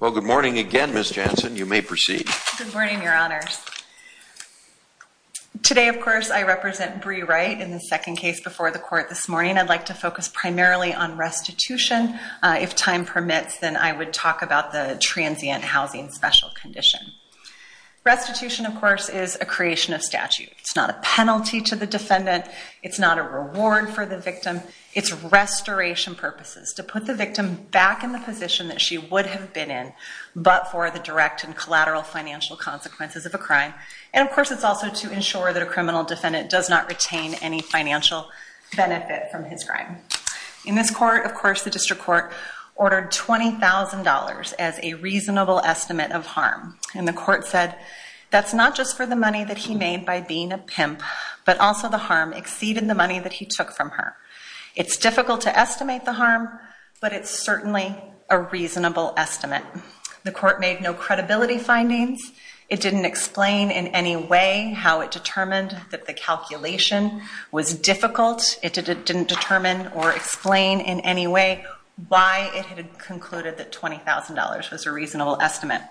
Well, good morning again, Ms. Jansen. You may proceed. Good morning, Your Honors. Today, of course, I represent Bree Wright in the second case before the court this morning. I'd like to focus primarily on restitution. If time permits, then I would talk about the transient housing special condition. Restitution, of course, is a creation of statute. It's not a penalty to the defendant. It's not a reward for the victim. It's restoration purposes, to put the victim back in the position that she would have been in, but for the direct and collateral financial consequences of a crime. And, of course, it's also to ensure that a criminal defendant does not retain any financial benefit from his crime. In this court, of course, the district court ordered $20,000 as a reasonable estimate of harm. And the court said that's not just for the money that he made by being a pimp, but also the harm exceeded the money that he took from her. It's difficult to estimate the harm, but it's certainly a reasonable estimate. The court made no credibility findings. It didn't explain in any way how it determined that the calculation was difficult. It didn't determine or explain in any way why it had concluded that $20,000 was a reasonable estimate.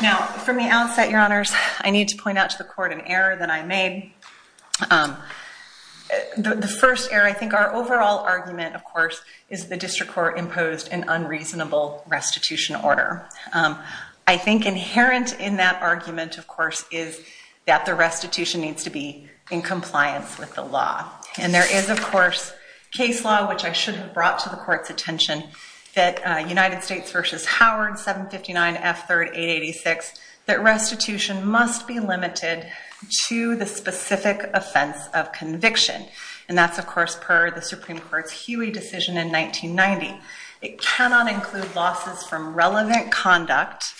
Now, from the outset, your honors, I need to point out to the court an error that I made. The first error, I think our overall argument, of course, is the district court imposed an unreasonable restitution order. I think inherent in that argument, of course, is that the restitution needs to be in compliance with the law. And there is, of course, case law, which I should have brought to the court's attention, that United States v. Howard 759 F. 3rd 886, that restitution must be limited to the specific offense of conviction. And that's, of course, per the Supreme Court's Huey decision in 1990. It cannot include losses from relevant conduct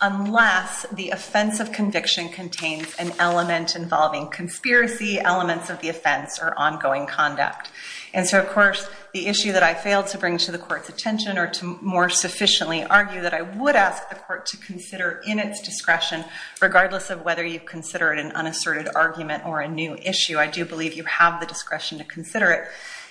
unless the offense of conviction contains an element involving conspiracy elements of the offense or ongoing conduct. And so, of course, the issue that I failed to bring to the court's attention or to more sufficiently argue that I would ask the court to consider in its discretion, regardless of whether you consider it an unasserted argument or a new issue, I do believe you have the discretion to consider it,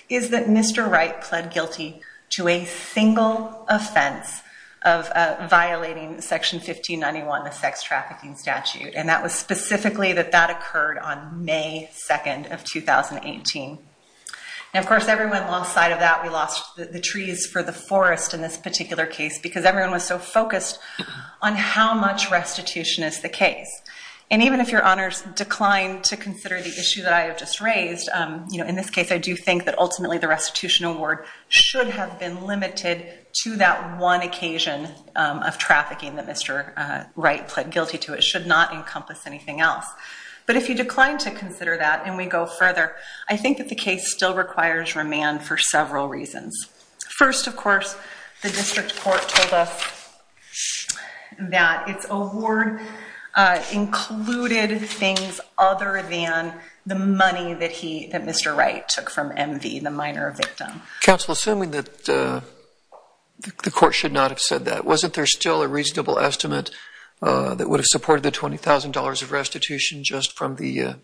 is that Mr. Wright pled guilty to a single offense of violating Section 1591, the sex trafficking statute. And that was specifically that that occurred on May 2nd of 2018. And, of course, everyone lost sight of that. We lost the trees for the forest in this particular case because everyone was so focused on how much restitution is the case. And even if your honors declined to consider the issue that I have just raised, you know, in this case, I do think that ultimately the restitution award should have been limited to that one occasion of trafficking that Mr. Wright pled guilty to. It should not encompass anything else. But if you decline to consider that and we go further, I think that the case still requires remand for several reasons. First, of course, the district court told us that its award included things other than the money that Mr. Wright took from MV, the minor victim. Counsel, assuming that the court should not have said that, wasn't there still a reasonable estimate that would have supported the $20,000 of restitution just from the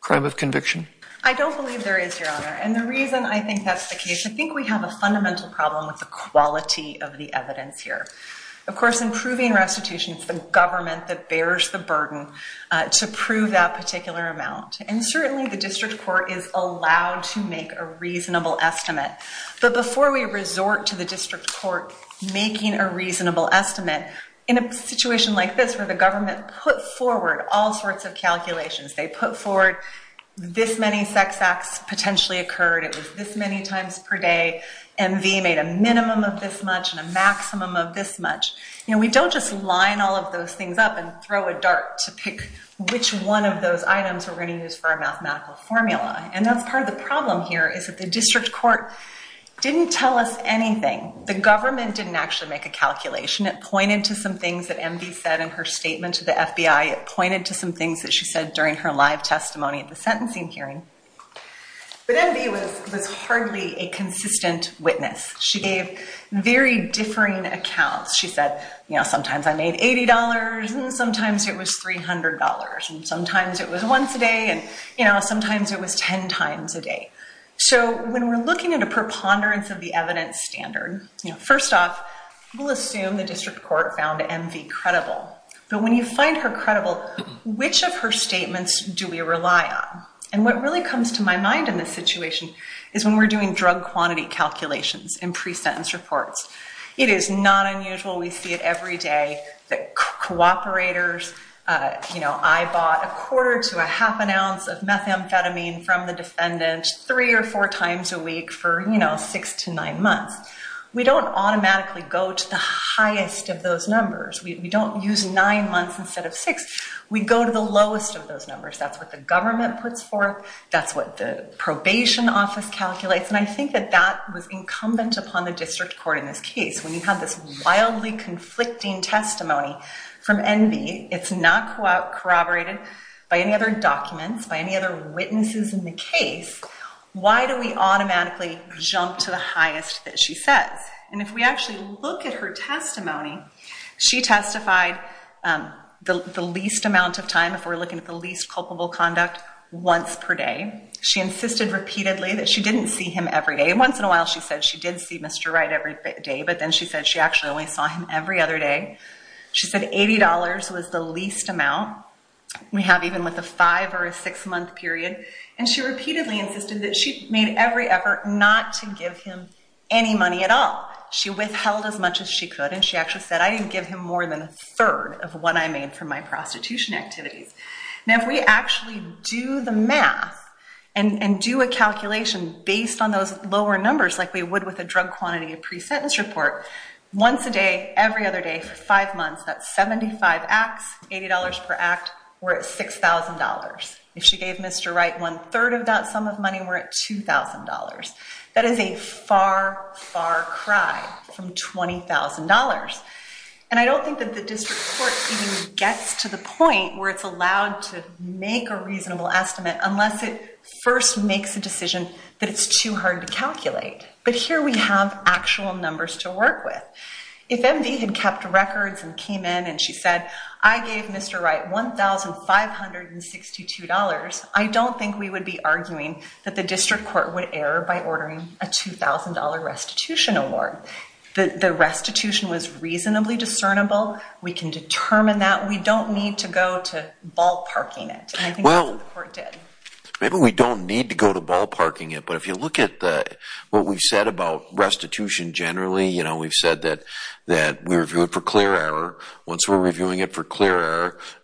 crime of conviction? I don't believe there is, Your Honor. And the reason I think that's the case, I think we have a fundamental problem with the quality of the evidence here. Of course, in proving restitution, it's the government that bears the burden to prove that particular amount. And certainly the district court is allowed to make a reasonable estimate. But before we resort to the district court making a reasonable estimate, in a situation like this where the government put forward all sorts of calculations, they put forward this many sex acts potentially occurred, it was this many times per day, MV made a minimum of this much and a maximum of this much, we don't just line all of those things up and throw a dart to pick which one of those items we're going to use for our mathematical formula. And that's part of the problem here is that the district court didn't tell us anything. The government didn't actually make a calculation. It pointed to some things that MV said in her statement to the FBI. It pointed to some things that she said during her live testimony at the sentencing hearing. But MV was hardly a consistent witness. She gave very differing accounts. She said, you know, sometimes I made $80, and sometimes it was $300, and sometimes it was once a day, and, you know, sometimes it was 10 times a day. So when we're looking at a preponderance of the evidence standard, first off, we'll assume the district court found MV credible. But when you find her credible, which of her statements do we rely on? And what really comes to my mind in this situation is when we're doing drug quantity calculations and pre-sentence reports. It is not unusual. We see it every day that cooperators, you know, I bought a quarter to a half an ounce of methamphetamine from the defendant three or four times a week for, you know, six to nine months. We don't automatically go to the highest of those numbers. We don't use nine months instead of six. We go to the lowest of those numbers. That's what the government puts forth. That's what the probation office calculates. And I think that that was incumbent upon the district court in this case. When you have this wildly conflicting testimony from MV, it's not corroborated by any other documents, by any other witnesses in the case, why do we automatically jump to the highest that she says? And if we actually look at her testimony, she testified the least amount of time, if we're looking at the least culpable conduct, once per day. She insisted repeatedly that she didn't see him every day. And once in a while she said she did see Mr. Wright every day, but then she said she actually only saw him every other day. She said $80 was the least amount we have even with a five or a six-month period. And she repeatedly insisted that she made every effort not to give him any money at all. She withheld as much as she could, and she actually said, I didn't give him more than a third of what I made from my prostitution activities. Now, if we actually do the math and do a calculation based on those lower numbers like we would with a drug quantity and pre-sentence report, once a day, every other day for five months, that's 75 acts, $80 per act, we're at $6,000. If she gave Mr. Wright one-third of that sum of money, we're at $2,000. That is a far, far cry from $20,000. And I don't think that the district court even gets to the point where it's allowed to make a reasonable estimate unless it first makes a decision that it's too hard to calculate. But here we have actual numbers to work with. If MD had kept records and came in and she said, I gave Mr. Wright $1,562, I don't think we would be arguing that the district court would err by ordering a $2,000 restitution award. The restitution was reasonably discernible. We can determine that. We don't need to go to ballparking it, and I think that's what the court did. Well, maybe we don't need to go to ballparking it, but if you look at what we've said about restitution generally, we've said that we review it for clear error. Once we're reviewing it for clear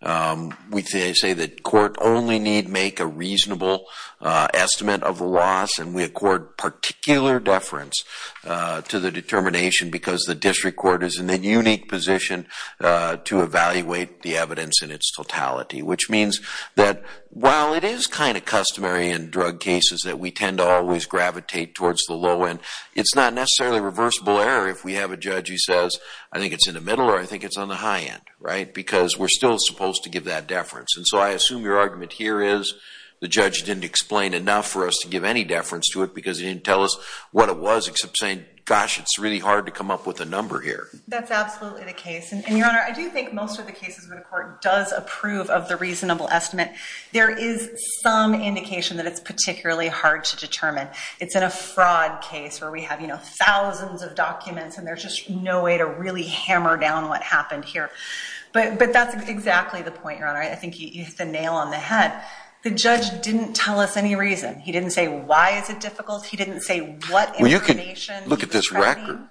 error, we say that court only need make a reasonable estimate of the loss and we accord particular deference to the determination because the district court is in a unique position to evaluate the evidence in its totality. Which means that while it is kind of customary in drug cases that we tend to always gravitate towards the low end, it's not necessarily reversible error if we have a judge who says, I think it's in the middle or I think it's on the high end. Because we're still supposed to give that deference. And so I assume your argument here is the judge didn't explain enough for us to give any deference to it because he didn't tell us what it was except saying, gosh, it's really hard to come up with a number here. That's absolutely the case. And, Your Honor, I do think most of the cases where the court does approve of the reasonable estimate, there is some indication that it's particularly hard to determine. It's in a fraud case where we have thousands of documents and there's just no way to really hammer down what happened here. But that's exactly the point, Your Honor. I think you hit the nail on the head. The judge didn't tell us any reason. He didn't say why is it difficult. He didn't say what information. Look at this record.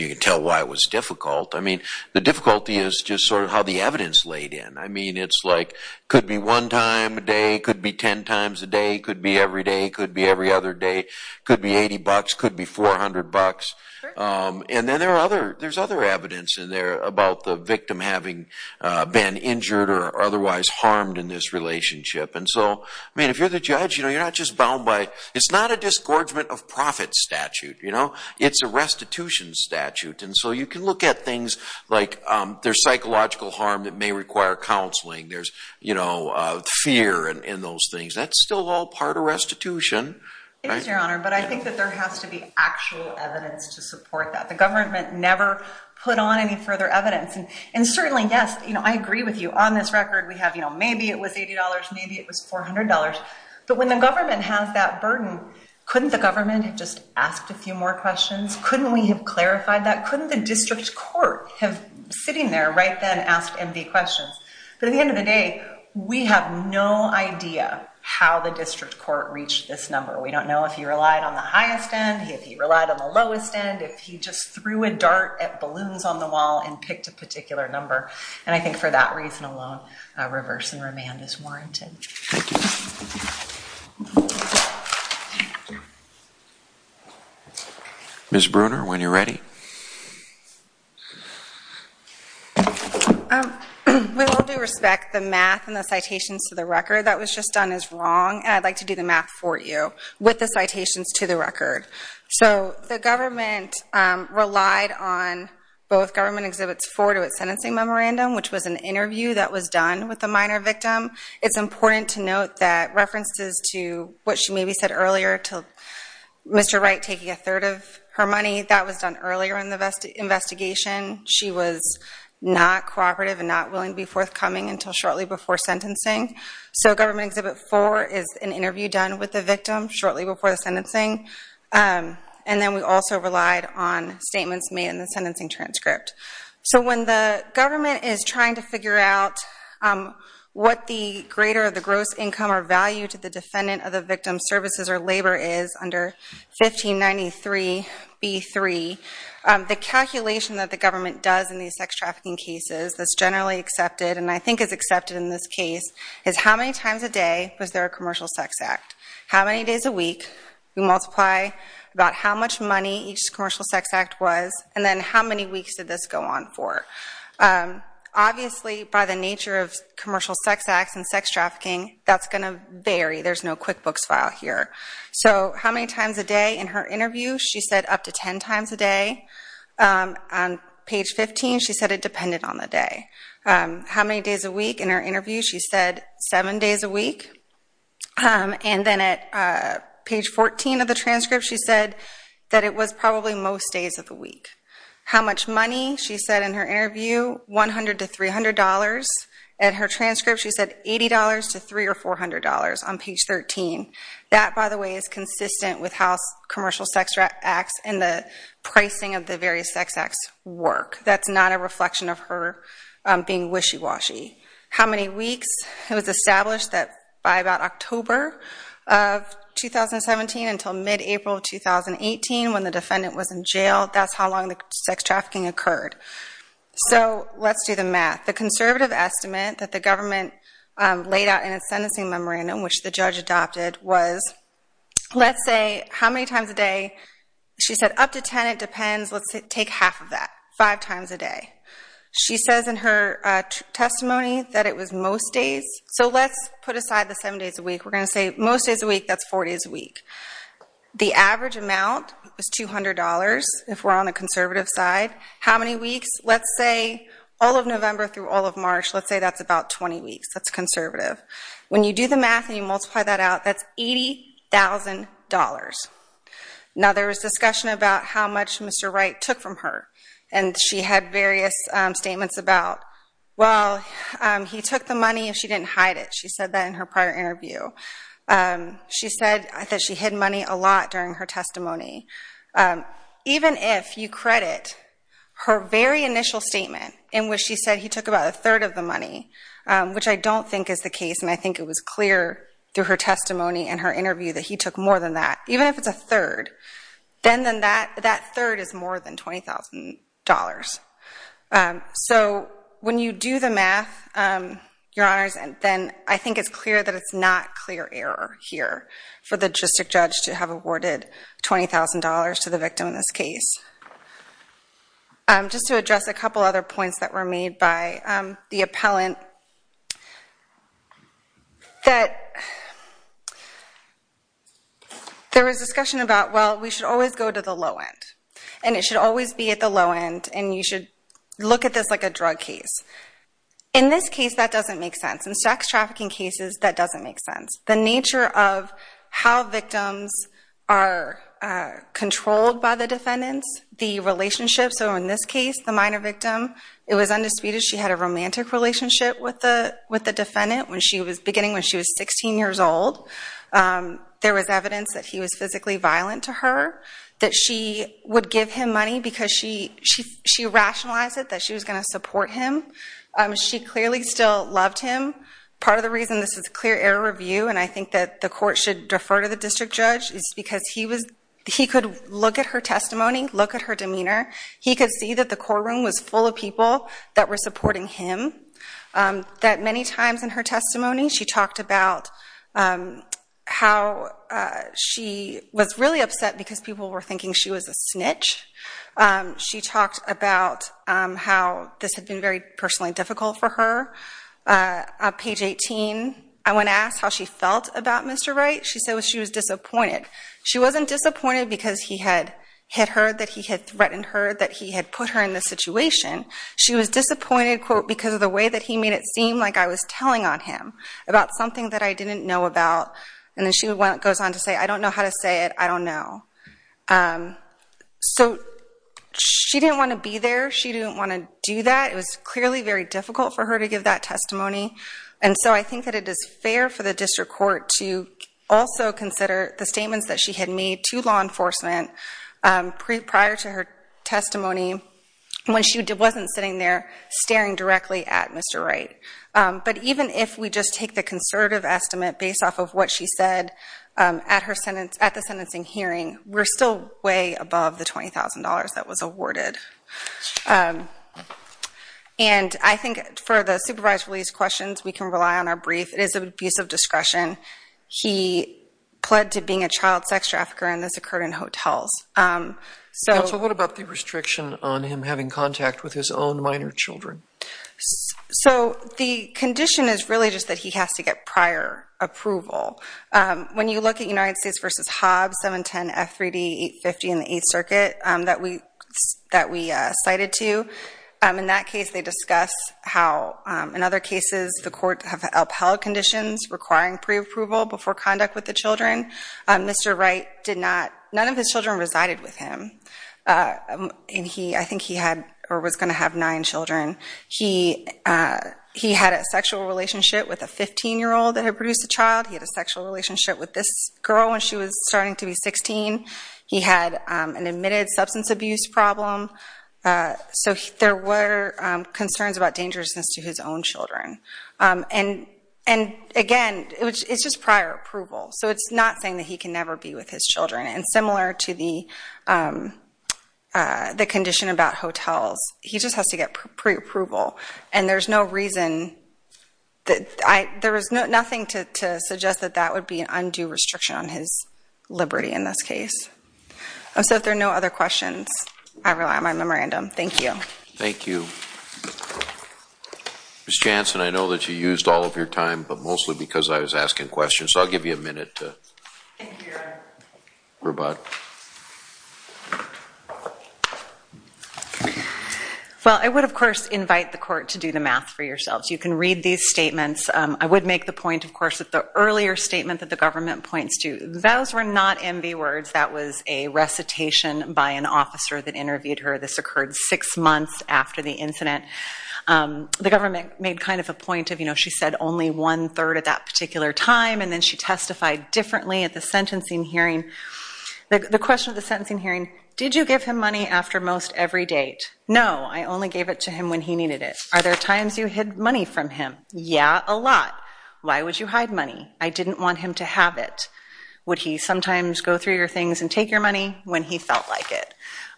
You can tell why it was difficult. The difficulty is just sort of how the evidence laid in. It could be one time a day. It could be ten times a day. It could be every day. It could be every other day. It could be $80. It could be $400. And then there's other evidence in there about the victim having been injured or otherwise harmed in this relationship. And so, I mean, if you're the judge, you're not just bound by it. It's not a disgorgement of profit statute. It's a restitution statute. And so you can look at things like there's psychological harm that may require counseling. There's fear and those things. That's still all part of restitution. It is, Your Honor. But I think that there has to be actual evidence to support that. The government never put on any further evidence. And certainly, yes, I agree with you. On this record, we have maybe it was $80, maybe it was $400. But when the government has that burden, couldn't the government have just asked a few more questions? Couldn't we have clarified that? Couldn't the district court have, sitting there right then, asked empty questions? But at the end of the day, we have no idea how the district court reached this number. We don't know if he relied on the highest end, if he relied on the lowest end, if he just threw a dart at balloons on the wall and picked a particular number. And I think for that reason alone, reverse and remand is warranted. Thank you. Ms. Bruner, when you're ready. We will do respect the math and the citations to the record. That was just done as wrong. And I'd like to do the math for you with the citations to the record. So the government relied on both government exhibits for to its sentencing memorandum, which was an interview that was done with the minor victim. It's important to note that references to what she maybe said earlier to Mr. Wright taking a third of her money, that was done earlier. Earlier in the investigation, she was not cooperative and not willing to be forthcoming until shortly before sentencing. So government exhibit four is an interview done with the victim shortly before the sentencing. And then we also relied on statements made in the sentencing transcript. So when the government is trying to figure out what the greater of the gross income or value to the defendant of the victim's services or labor is under 1593B3, the calculation that the government does in these sex trafficking cases that's generally accepted and I think is accepted in this case is how many times a day was there a commercial sex act? How many days a week? We multiply about how much money each commercial sex act was and then how many weeks did this go on for? Obviously, by the nature of commercial sex acts and sex trafficking, that's going to vary. There's no QuickBooks file here. So how many times a day in her interview? She said up to 10 times a day. On page 15, she said it depended on the day. How many days a week in her interview? She said seven days a week. And then at page 14 of the transcript, she said that it was probably most days of the week. How much money? She said in her interview, $100 to $300. At her transcript, she said $80 to $300 or $400 on page 13. That, by the way, is consistent with how commercial sex acts and the pricing of the various sex acts work. That's not a reflection of her being wishy-washy. How many weeks? It was established that by about October of 2017 until mid-April of 2018, when the defendant was in jail, that's how long the sex trafficking occurred. So let's do the math. The conservative estimate that the government laid out in its sentencing memorandum, which the judge adopted, was let's say how many times a day. She said up to 10. It depends. Let's take half of that, five times a day. She says in her testimony that it was most days. So let's put aside the seven days a week. We're going to say most days a week. That's four days a week. The average amount is $200 if we're on the conservative side. How many weeks? Let's say all of November through all of March. Let's say that's about 20 weeks. That's conservative. When you do the math and you multiply that out, that's $80,000. Now, there was discussion about how much Mr. Wright took from her, and she had various statements about, well, he took the money and she didn't hide it. She said that in her prior interview. She said that she hid money a lot during her testimony. Even if you credit her very initial statement in which she said that he took about a third of the money, which I don't think is the case, and I think it was clear through her testimony and her interview that he took more than that. Even if it's a third, then that third is more than $20,000. So when you do the math, Your Honors, then I think it's clear that it's not clear error here for the justice judge to have awarded $20,000 to the victim in this case. Just to address a couple other points that were made by the appellant, that there was discussion about, well, we should always go to the low end, and it should always be at the low end, and you should look at this like a drug case. In this case, that doesn't make sense. In sex trafficking cases, that doesn't make sense. The nature of how victims are controlled by the defendants, the relationship, so in this case, the minor victim, it was undisputed she had a romantic relationship with the defendant beginning when she was 16 years old. There was evidence that he was physically violent to her, that she would give him money because she rationalized it, that she was going to support him. She clearly still loved him. Part of the reason this is a clear error review, and I think that the court should defer to the district judge, is because he could look at her testimony, look at her demeanor. He could see that the courtroom was full of people that were supporting him. Many times in her testimony, she talked about how she was really upset because people were thinking she was a snitch. She talked about how this had been very personally difficult for her, on page 18, I went to ask how she felt about Mr. Wright. She said she was disappointed. She wasn't disappointed because he had hit her, that he had threatened her, that he had put her in this situation. She was disappointed, quote, because of the way that he made it seem like I was telling on him about something that I didn't know about. And then she goes on to say, I don't know how to say it. I don't know. So she didn't want to be there. She didn't want to do that. It was clearly very difficult for her to give that testimony. And so I think that it is fair for the district court to also consider the statements that she had made to law enforcement prior to her testimony when she wasn't sitting there staring directly at Mr. Wright. But even if we just take the conservative estimate based off of what she said at the sentencing hearing, we're still way above the $20,000 that was awarded. And I think for the supervised release questions, we can rely on our brief. It is an abuse of discretion. He pled to being a child sex trafficker, and this occurred in hotels. Counsel, what about the restriction on him having contact with his own minor children? So the condition is really just that he has to get prior approval. When you look at United States v. Hobbs, 710F3D850 in the Eighth Circuit that we cited to, in that case they discuss how, in other cases, the court have upheld conditions requiring preapproval before conduct with the children. Mr. Wright, none of his children resided with him, and I think he was going to have nine children. He had a sexual relationship with a 15-year-old that had produced a child. He had a sexual relationship with this girl when she was starting to be 16. He had an admitted substance abuse problem. So there were concerns about dangerousness to his own children. And, again, it's just prior approval. So it's not saying that he can never be with his children. And similar to the condition about hotels, he just has to get preapproval. And there's no reason that I – there is nothing to suggest that that would be an undue restriction on his liberty in this case. So if there are no other questions, I rely on my memorandum. Thank you. Thank you. Ms. Jansen, I know that you used all of your time, but mostly because I was asking questions. So I'll give you a minute to rebut. Well, I would, of course, invite the court to do the math for yourselves. You can read these statements. I would make the point, of course, that the earlier statement that the government points to, those were not envy words. That was a recitation by an officer that interviewed her. This occurred six months after the incident. The government made kind of a point of, you know, she said only one-third at that particular time, and then she testified differently at the sentencing hearing. The question at the sentencing hearing, did you give him money after most every date? No, I only gave it to him when he needed it. Are there times you hid money from him? Yeah, a lot. Why would you hide money? I didn't want him to have it. Would he sometimes go through your things and take your money when he felt like it?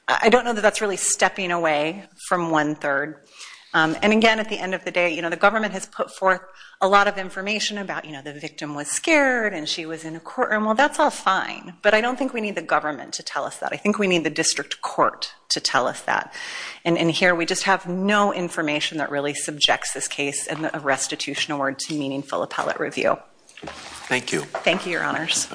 I don't know that that's really stepping away from one-third. And, again, at the end of the day, you know, the government has put forth a lot of information about, you know, the victim was scared and she was in a courtroom. Well, that's all fine. But I don't think we need the government to tell us that. I think we need the district court to tell us that. And here we just have no information that really subjects this case in a restitutional word to meaningful appellate review. Thank you. Thank you, Your Honors.